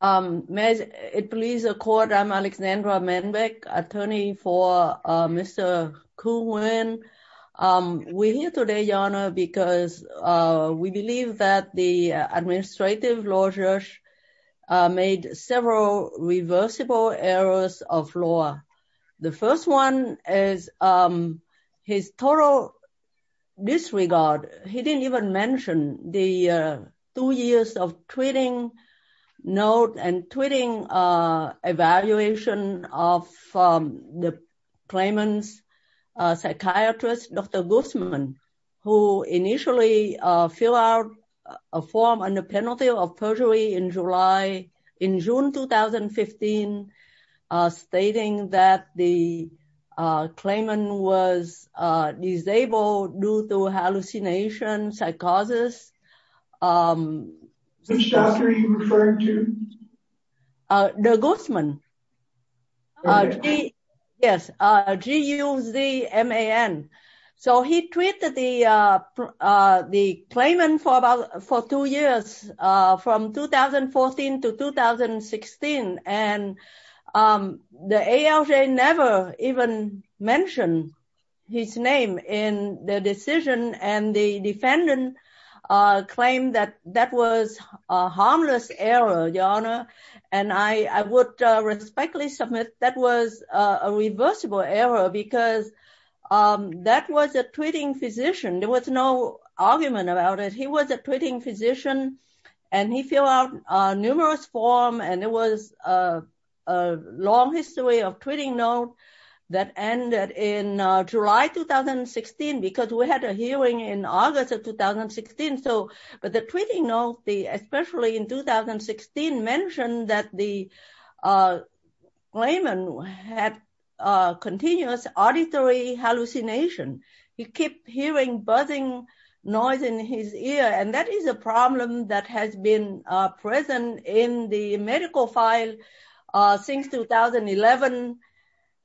May it please the court, I'm Alexandra Manbeck, attorney for Mr. Khu Nguyen. We're here today, Your Honor, because we believe that the administrative law judge made several reversible errors of law. The first one is his total disregard. He didn't even mention the two years of tweeting note and tweeting evaluation of the claimant's psychiatrist, Dr. Guzman, who initially fill out a form under penalty of perjury in July, in June 2015, stating that the claimant was disabled due to hallucination, psychosis. Which doctor are you referring to? The Guzman. Yes, G-U-Z-M-A-N. So he tweeted the claimant for two years, from 2014 to 2016. And the ALJ never even mentioned his name in the decision. And the defendant claimed that that was a harmless error, Your Honor. And I would respectfully submit that was a reversible error because that was a tweeting physician. There was no argument about it. He was a tweeting physician and he fill out numerous form and it was a long history of tweeting note that ended in July 2016, because we had a hearing in August of 2016. But the tweeting note, especially in 2016, mentioned that the claimant had continuous auditory hallucination. He kept hearing buzzing noise in his ear, and that is a problem that has been present in the medical file since 2011.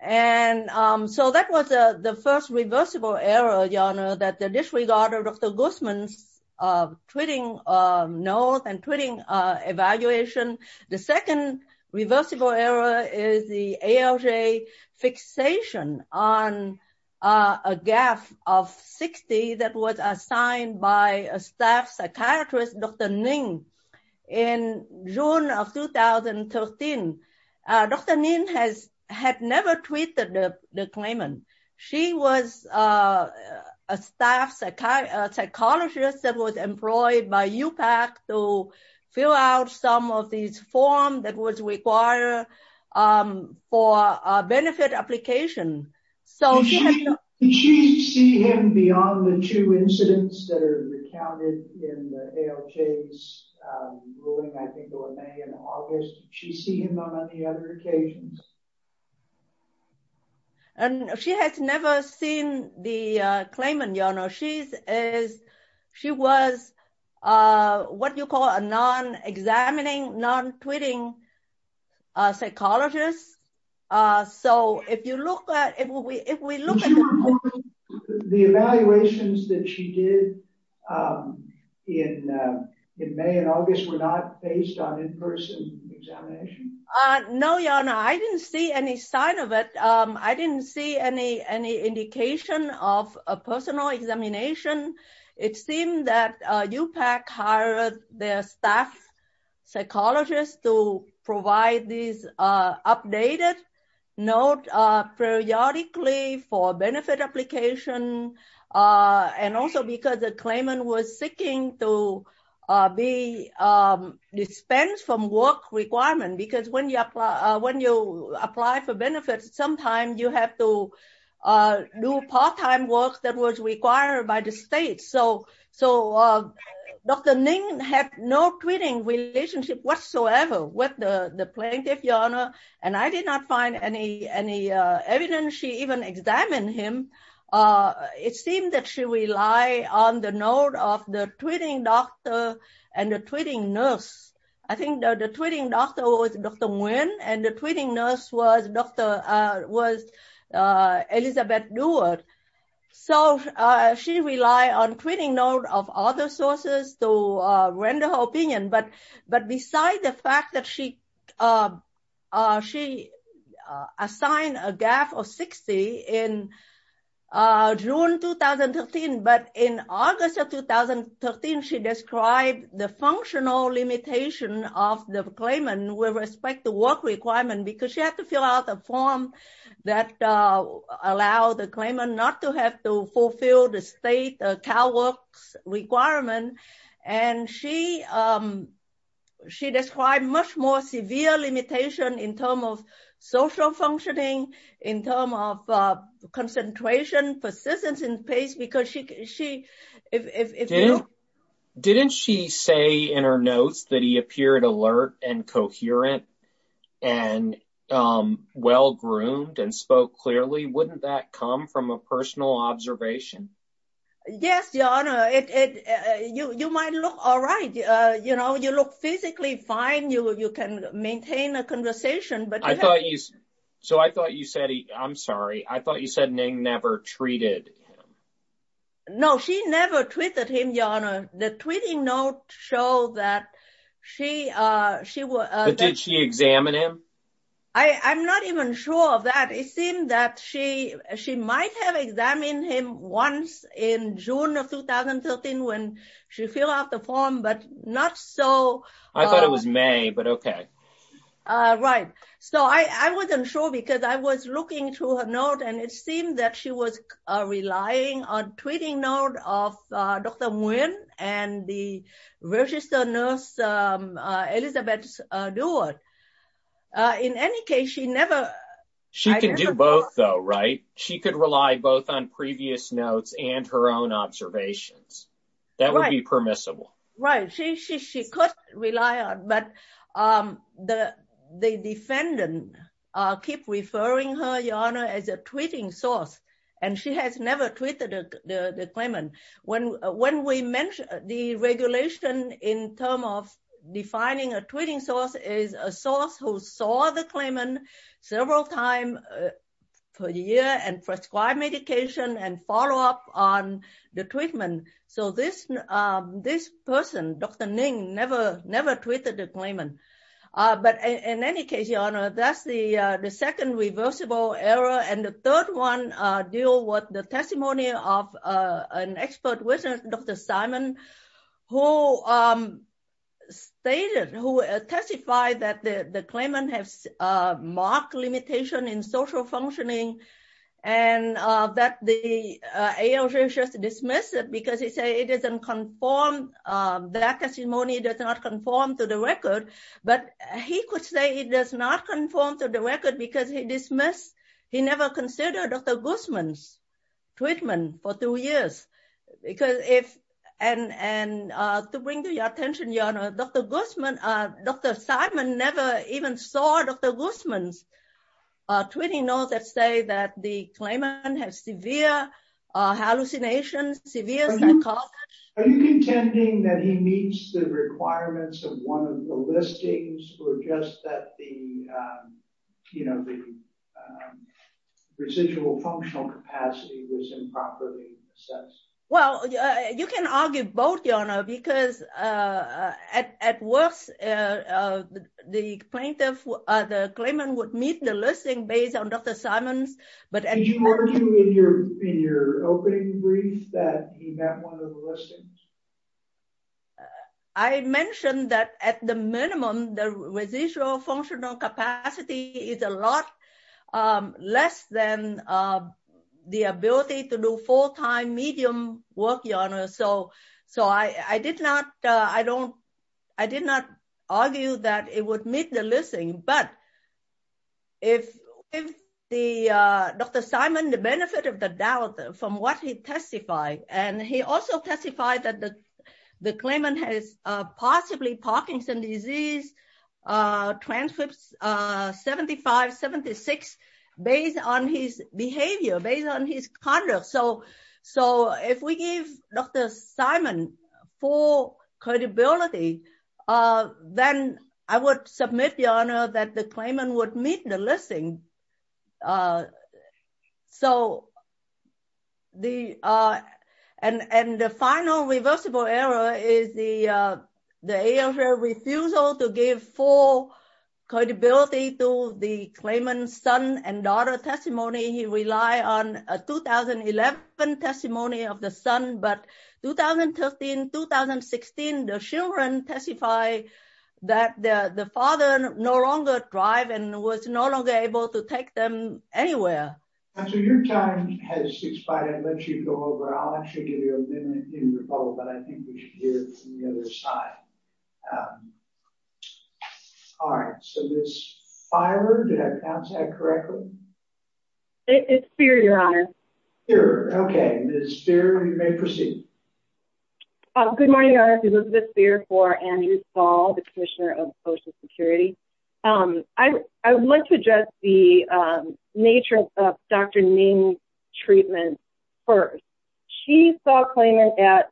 And so that was the first reversible error, Your Honor, that disregarded Dr. Guzman's tweeting note and tweeting evaluation. The second reversible error is the ALJ fixation on a gap of 60 that was assigned by a staff psychiatrist, Dr. Ning, in June of 2013. Dr. Ning had never tweeted the claimant. She was a staff psychologist that was employed by UPAC to fill out some of these form that was required for a benefit application. Did she see him beyond the two incidents that are recounted in the ALJ's ruling, in May and August? Did she see him on the other occasions? And she has never seen the claimant, Your Honor. She was what you call a non-examining, non-tweeting psychologist. So if you look at... Did you report the evaluations that she did in May and August were not based on in-person examination? No, Your Honor. I didn't see any sign of it. I didn't see any indication of a personal examination. It seemed that UPAC hired their staff psychologist to provide these updated notes periodically for benefit application. And also because the claimant was seeking to be dispensed from work requirement. Because when you apply for benefits, sometimes you have to do part-time work that was required by the state. So Dr. Ning had no tweeting relationship whatsoever with the plaintiff, Your Honor. And I did not find any evidence she even examined him. It seemed that she relied on the note of the tweeting doctor and the tweeting nurse. I think the tweeting doctor was Dr. Nguyen and the tweeting nurse was Elizabeth Dewart. So she relied on tweeting notes of other sources to render her opinion. But besides the fact that she assigned a gap of 60 in June 2013, but in August of 2013, she described the functional limitation of the claimant with respect to work requirement. Because she had to fill out a form that allowed the claimant not to have to fulfill the state CalWORKs requirement. And she described much more severe limitation in terms of social functioning, in terms of concentration, persistence, and pace because she... Didn't she say in her notes that he appeared alert and coherent and well-groomed and spoke clearly? Wouldn't that come from a personal observation? Yes, Your Honor. You might look all right. You look physically fine. You can maintain a conversation. So I thought you said, I'm sorry. I thought you said Nguyen never treated him. No, she never treated him, Your Honor. The tweeting notes show that she... But did she examine him? I'm not even sure of that. It seemed that she might have examined him once in June of 2013 when she filled out the form, but not so... I thought it was May, but okay. Right. So I wasn't sure because I was looking through her note and it seemed that she was relying on tweeting note of Dr. Nguyen and the registered nurse, Elizabeth Duart. In any case, she never... She could do both though, right? She could rely both on previous notes and her own observations. That would be permissible. Right. She could rely on, but the defendant keep referring her, Your Honor, as a tweeting source and she has never treated the claimant. When we mentioned the regulation in term of defining a tweeting source is a source who saw the claimant several times per year and prescribed medication and follow up on the treatment. So this person, Dr. Nguyen, never tweeted the claimant. But in any case, Your Honor, that's the second reversible error. And the third one deal with the testimony of an expert witness, Dr. Simon, who testified that the claimant has marked limitation in social functioning and that the ALJ just dismissed it because he say it doesn't conform. That testimony does not conform to the record, but he could say it does not conform to the record because he dismissed... He never considered Dr. Guzman's treatment for two years. And to bring to your attention, Your Honor, Dr. Simon never even saw Dr. Guzman's tweeting notes that say that the claimant has severe hallucinations, severe psychosis. Are you contending that he meets the requirements of one of the listings or just that the residual functional capacity was improperly assessed? Well, you can argue both, Your Honor, because at worst, the claimant would meet the listing based on Dr. Simon's... Did you argue in your opening brief that he met one of the listings? I mentioned that at the minimum, the residual functional capacity is a lot less than the ability to do full-time medium work, Your Honor. So I did not argue that it would meet the listing. But if Dr. Simon, the benefit of the doubt from what he testified, and he also testified that the claimant has possibly Parkinson's disease transcripts 75, 76, based on his behavior, based on his conduct. So if we give Dr. Simon full credibility, then I would submit, Your Honor, that the claimant would meet the listing. And the final reversible error is the AFL refusal to give full credibility to the claimant's son and daughter testimony. He relied on a 2011 testimony of the son, but 2013, 2016, the children testified that the father no longer drive and was no longer able to take them anywhere. So your time has expired. I'll let you go over. I'll actually give you a minute in the follow-up, but I think we should hear from the other side. All right. So this is fear. You may proceed. Good morning, Your Honor. Elizabeth Spear for Andrew Stahl, the Commissioner of Social Security. I would like to address the nature of Dr. Ning's treatment. First, she saw a claimant at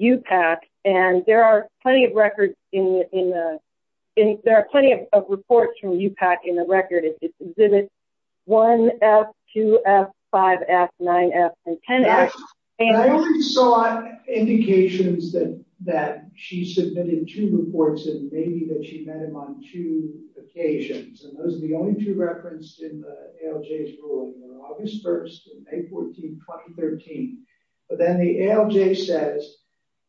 UPAC and there are plenty of records in the, in there are plenty of reports from UPAC in the record. It exhibits 1F, 2F, 5F, 9F, and 10F. I only saw indications that that she submitted two reports and maybe that she met him on two occasions. And those are the only two referenced in the ALJ's ruling, August 1st, May 14, 2013. But then the ALJ says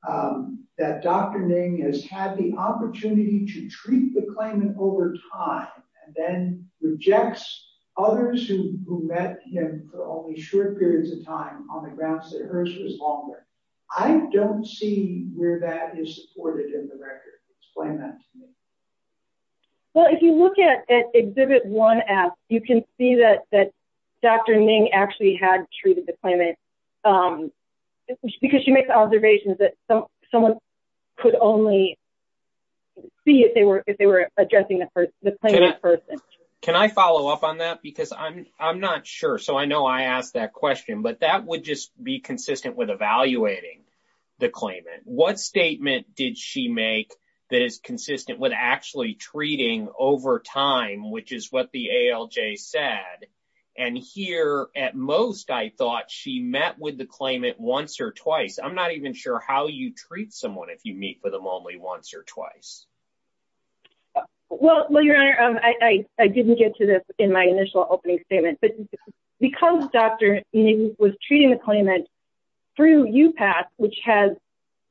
that Dr. Ning has had the opportunity to treat the claimant over time and then rejects others who met him for only short periods of time on the grounds that hers was longer. I don't see where that is supported in the record. Explain that to me. Well, if you look at, at exhibit 1F, you can see that, that Dr. Ning actually had treated the claimant because she makes observations that someone could only see if they were, if they were addressing the person, the claimant person. Can I follow up on that? Because I'm, I'm not sure. So I know I asked that question, but that would just be consistent with evaluating the claimant. What statement did she make that is consistent with actually treating over time, which is what the ALJ said. And here at most, I thought she met with the claimant once or twice. I'm not even sure how you treat someone if you meet with them only once or twice. Well, well, your honor, I didn't get to this in my initial opening statement, but because Dr. Ning was treating the claimant through UPASS, which has,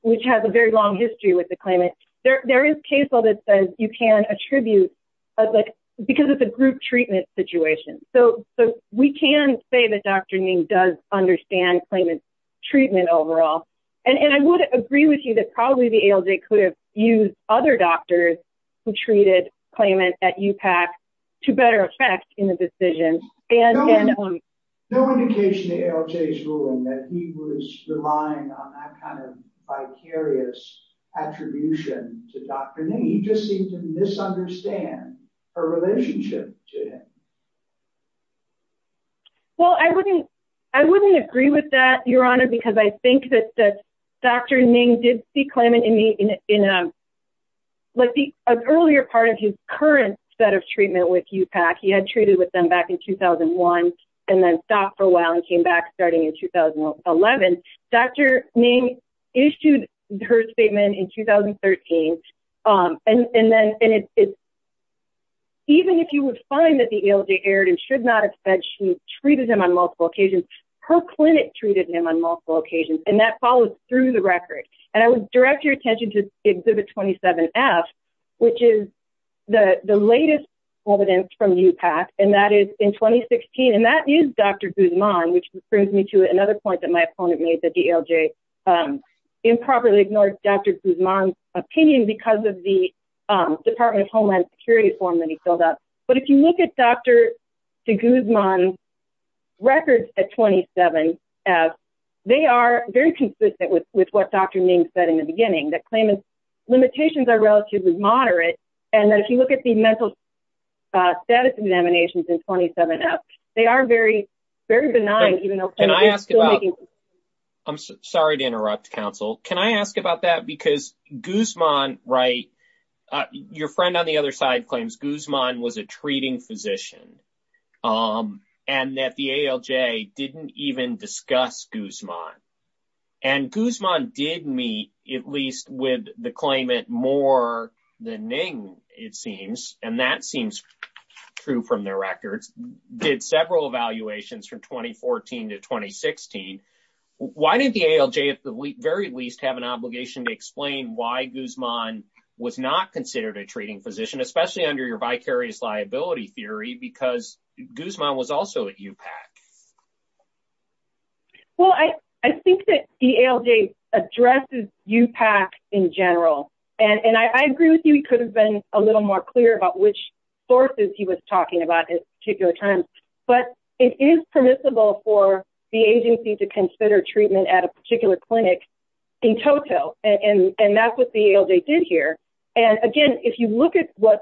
which has a very long history with the claimant. There, there is case law that says you can attribute like, because it's a group treatment situation. So, so we can say that Dr. Ning does understand claimant treatment overall. And, and I would agree with you that probably the ALJ could have used other doctors who treated claimant at UPASS to better affect in the decision. No indication in ALJ's ruling that he was relying on that kind of vicarious attribution to Dr. Ning. He just seemed to misunderstand her relationship to him. Well, I wouldn't, I wouldn't agree with that, your honor, because I think that, that Dr. Ning did see claimant in the, in a, like the earlier part of his current set of treatment with UPASS, he had treated with them back in 2001, and then stopped for a while and came back starting in 2011. Dr. Ning issued her statement in 2013. And then, and it's, even if you would find that the ALJ erred and should not have said she treated him on multiple occasions, her clinic treated him on multiple occasions, and that follows through the record. And I would direct your attention to Exhibit 27F, which is the latest evidence from UPASS, and that is in 2016. And that is Dr. Guzman, which brings me to another point that my opponent made that the ALJ improperly ignored Dr. Guzman's opinion because of the Department of Homeland Security form that he filled out. But if you look at Dr. Guzman's records at 27F, they are very consistent with what Dr. Ning said in the beginning, that claimant's limitations are relatively moderate, and that if you look at mental status examinations in 27F, they are very, very benign. I'm sorry to interrupt, counsel. Can I ask about that? Because Guzman, right, your friend on the other side claims Guzman was a treating physician, and that the ALJ didn't even discuss Guzman. And Guzman did meet, at least with the claimant, more than Ning, it seems, and that seems true from their records, did several evaluations from 2014 to 2016. Why did the ALJ, at the very least, have an obligation to explain why Guzman was not considered a treating physician, especially under your vicarious liability theory, because Guzman was also at UPAC? Well, I think that the ALJ addresses UPAC in general, and I agree with you, he could have been a little more clear about which sources he was talking about at particular times, but it is permissible for the agency to consider treatment at a particular clinic in total, and that's what the ALJ did here. And again, if you look at what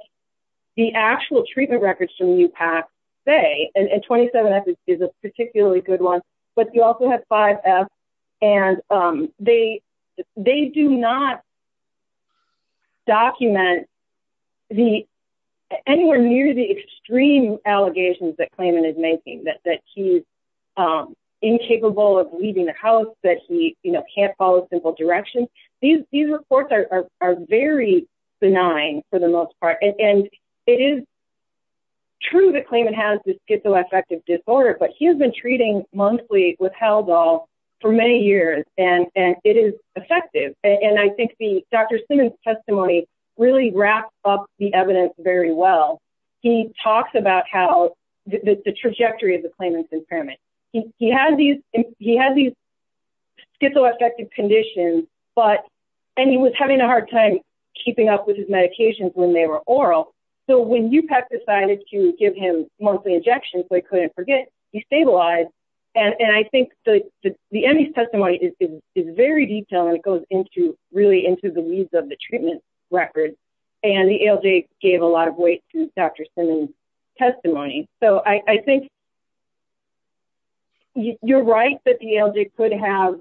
the actual treatment records from UPAC say, and 27F is a particularly good one, but you also have 5F, and they do not document anywhere near the extreme allegations that claimant is making, that he's incapable of leaving the house, that he can't follow simple directions. These reports are very benign for the most part, and it is true that claimant has this schizoaffective disorder, but he has been treating monthly with Haldol for many years, and it is effective, and I think the Dr. Simmons testimony really wraps up the evidence very well. He talks about the trajectory of the claimant's impairment. He had these schizoaffective conditions, and he was having a hard time keeping up with his medications when they were oral, so when UPAC decided to give him monthly injections, they couldn't forget, he stabilized, and I think the MD's testimony is very detailed, and it goes really into the weeds of the treatment record, and the ALJ gave a lot of weight to Dr. Simmons' testimony, so I think you're right that the ALJ could have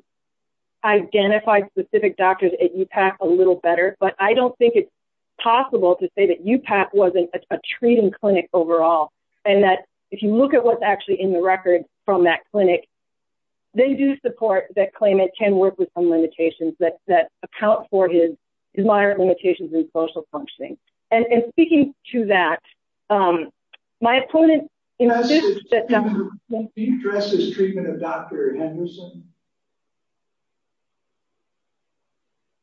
identified specific doctors at UPAC a little better, but I don't think it's possible to say that UPAC wasn't a treating clinic overall, and that if you look at what's actually in the record from that clinic, they do support that claimant can work with some limitations that account for his moderate limitations in social functioning, and speaking to that, my opponent insisted that you address this treatment of Dr. Henderson.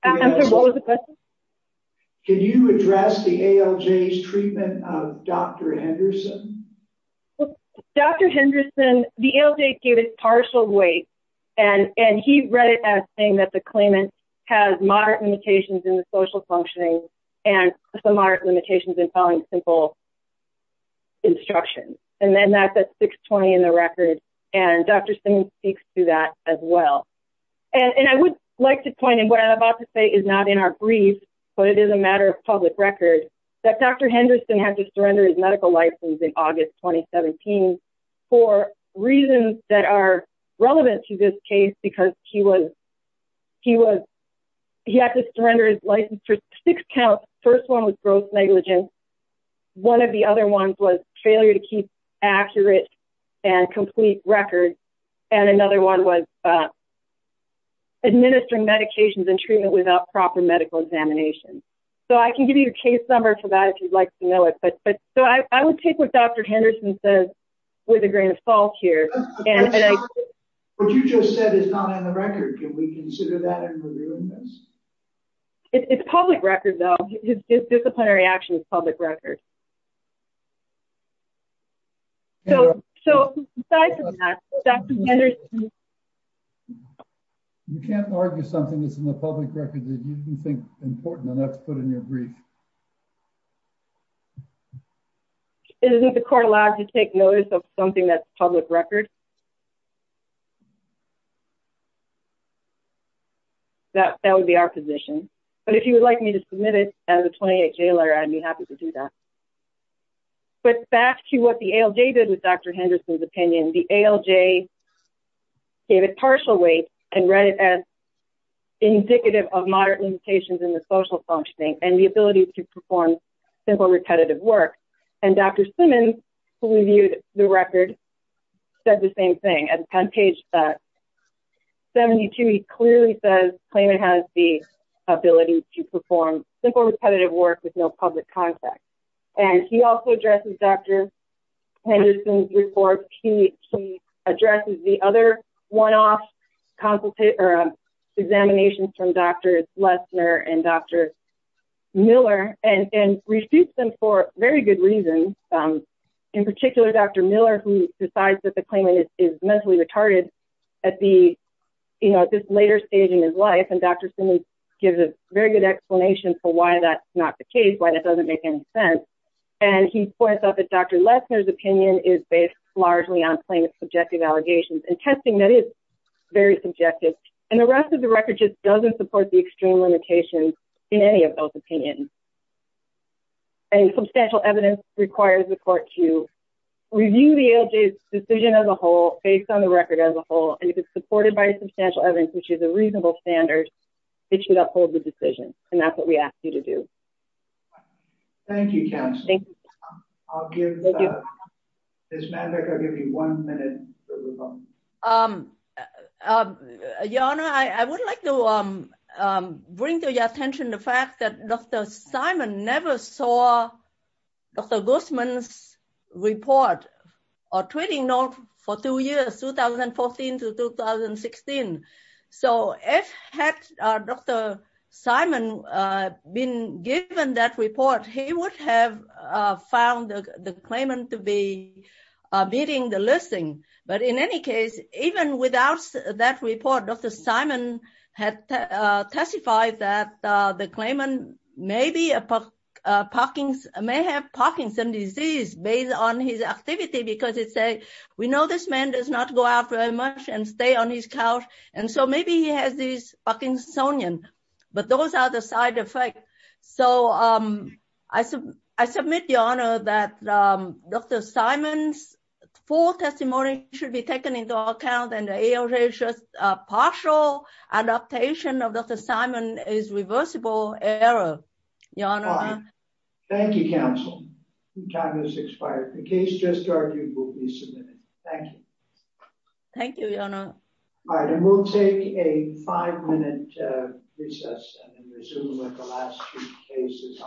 Can you address the ALJ's treatment of Dr. Henderson? Dr. Henderson, the ALJ gave it partial weight, and he read it as saying that the claimant has moderate limitations in the social functioning and some moderate limitations in following simple instructions, and then that's 620 in the record, and Dr. Simmons speaks to that as well, and I would like to point, and what I'm about to say is not in our brief, but it is a matter of public record, that Dr. Henderson had to surrender his medical license in August 2017 for reasons that are relevant to this case, because he had to surrender his license for six counts. First one was gross negligence. One of the other ones was failure to keep accurate and complete records, and another one was administering medications and treatment without proper medical examination, so I can give you a case number for that if you'd like to know it, but so I would take what Dr. Henderson says with a grain of salt here. What you just said is not in the record. Can we record? You can't argue something that's in the public record that you didn't think important, and that's put in your brief. Isn't the court allowed to take notice of something that's public record? That would be our position, but if you would like me to submit it as a 28-J letter, I'd be happy to do that, but back to what the ALJ did with Dr. Henderson's opinion. The ALJ gave it partial weight and read it as indicative of moderate limitations in the social functioning and the ability to perform simple repetitive work, and Dr. Simmons, who reviewed the record, said the same thing. At page 72, he clearly says Clayman has the ability to work with no public contact, and he also addresses Dr. Henderson's report. He addresses the other one-off examinations from Drs. Lesner and Dr. Miller and refutes them for very good reasons. In particular, Dr. Miller, who decides that the Clayman is mentally retarded at this later stage in his life, and Dr. Simmons gives a very good explanation for why that's not the case, why that doesn't make any sense, and he points out that Dr. Lesner's opinion is based largely on plaintiff's subjective allegations and testing that is very subjective, and the rest of the record just doesn't support the extreme limitations in any of those opinions, and substantial evidence requires the court to review the ALJ's decision as a whole based on the record as a whole, and if it's based on all standards, it should uphold the decision, and that's what we ask you to do. Thank you, counsel. I'll give this matter, I'll give you one minute. Your Honor, I would like to bring to your attention the fact that Dr. Simon never saw Dr. Guzman's report or tweeting note for two years, 2014 to 2016, so if had Dr. Simon been given that report, he would have found the Clayman to be beating the listing, but in any case, even without that report, Dr. Simon had testified that the Clayman may have Parkinson's disease based on his activity because it says, we know this man does not go out very much and stay on his couch, and so maybe he has this Parkinsonian, but those are the side effects, so I submit, that Dr. Simon's full testimony should be taken into account, and the ALJ's partial adaptation of Dr. Simon is reversible error. Your Honor. Thank you, counsel. Time has expired. The case just argued will be submitted. Thank you. Thank you, Your Honor. All right, and we'll take a five-minute recess and resume with the last two cases.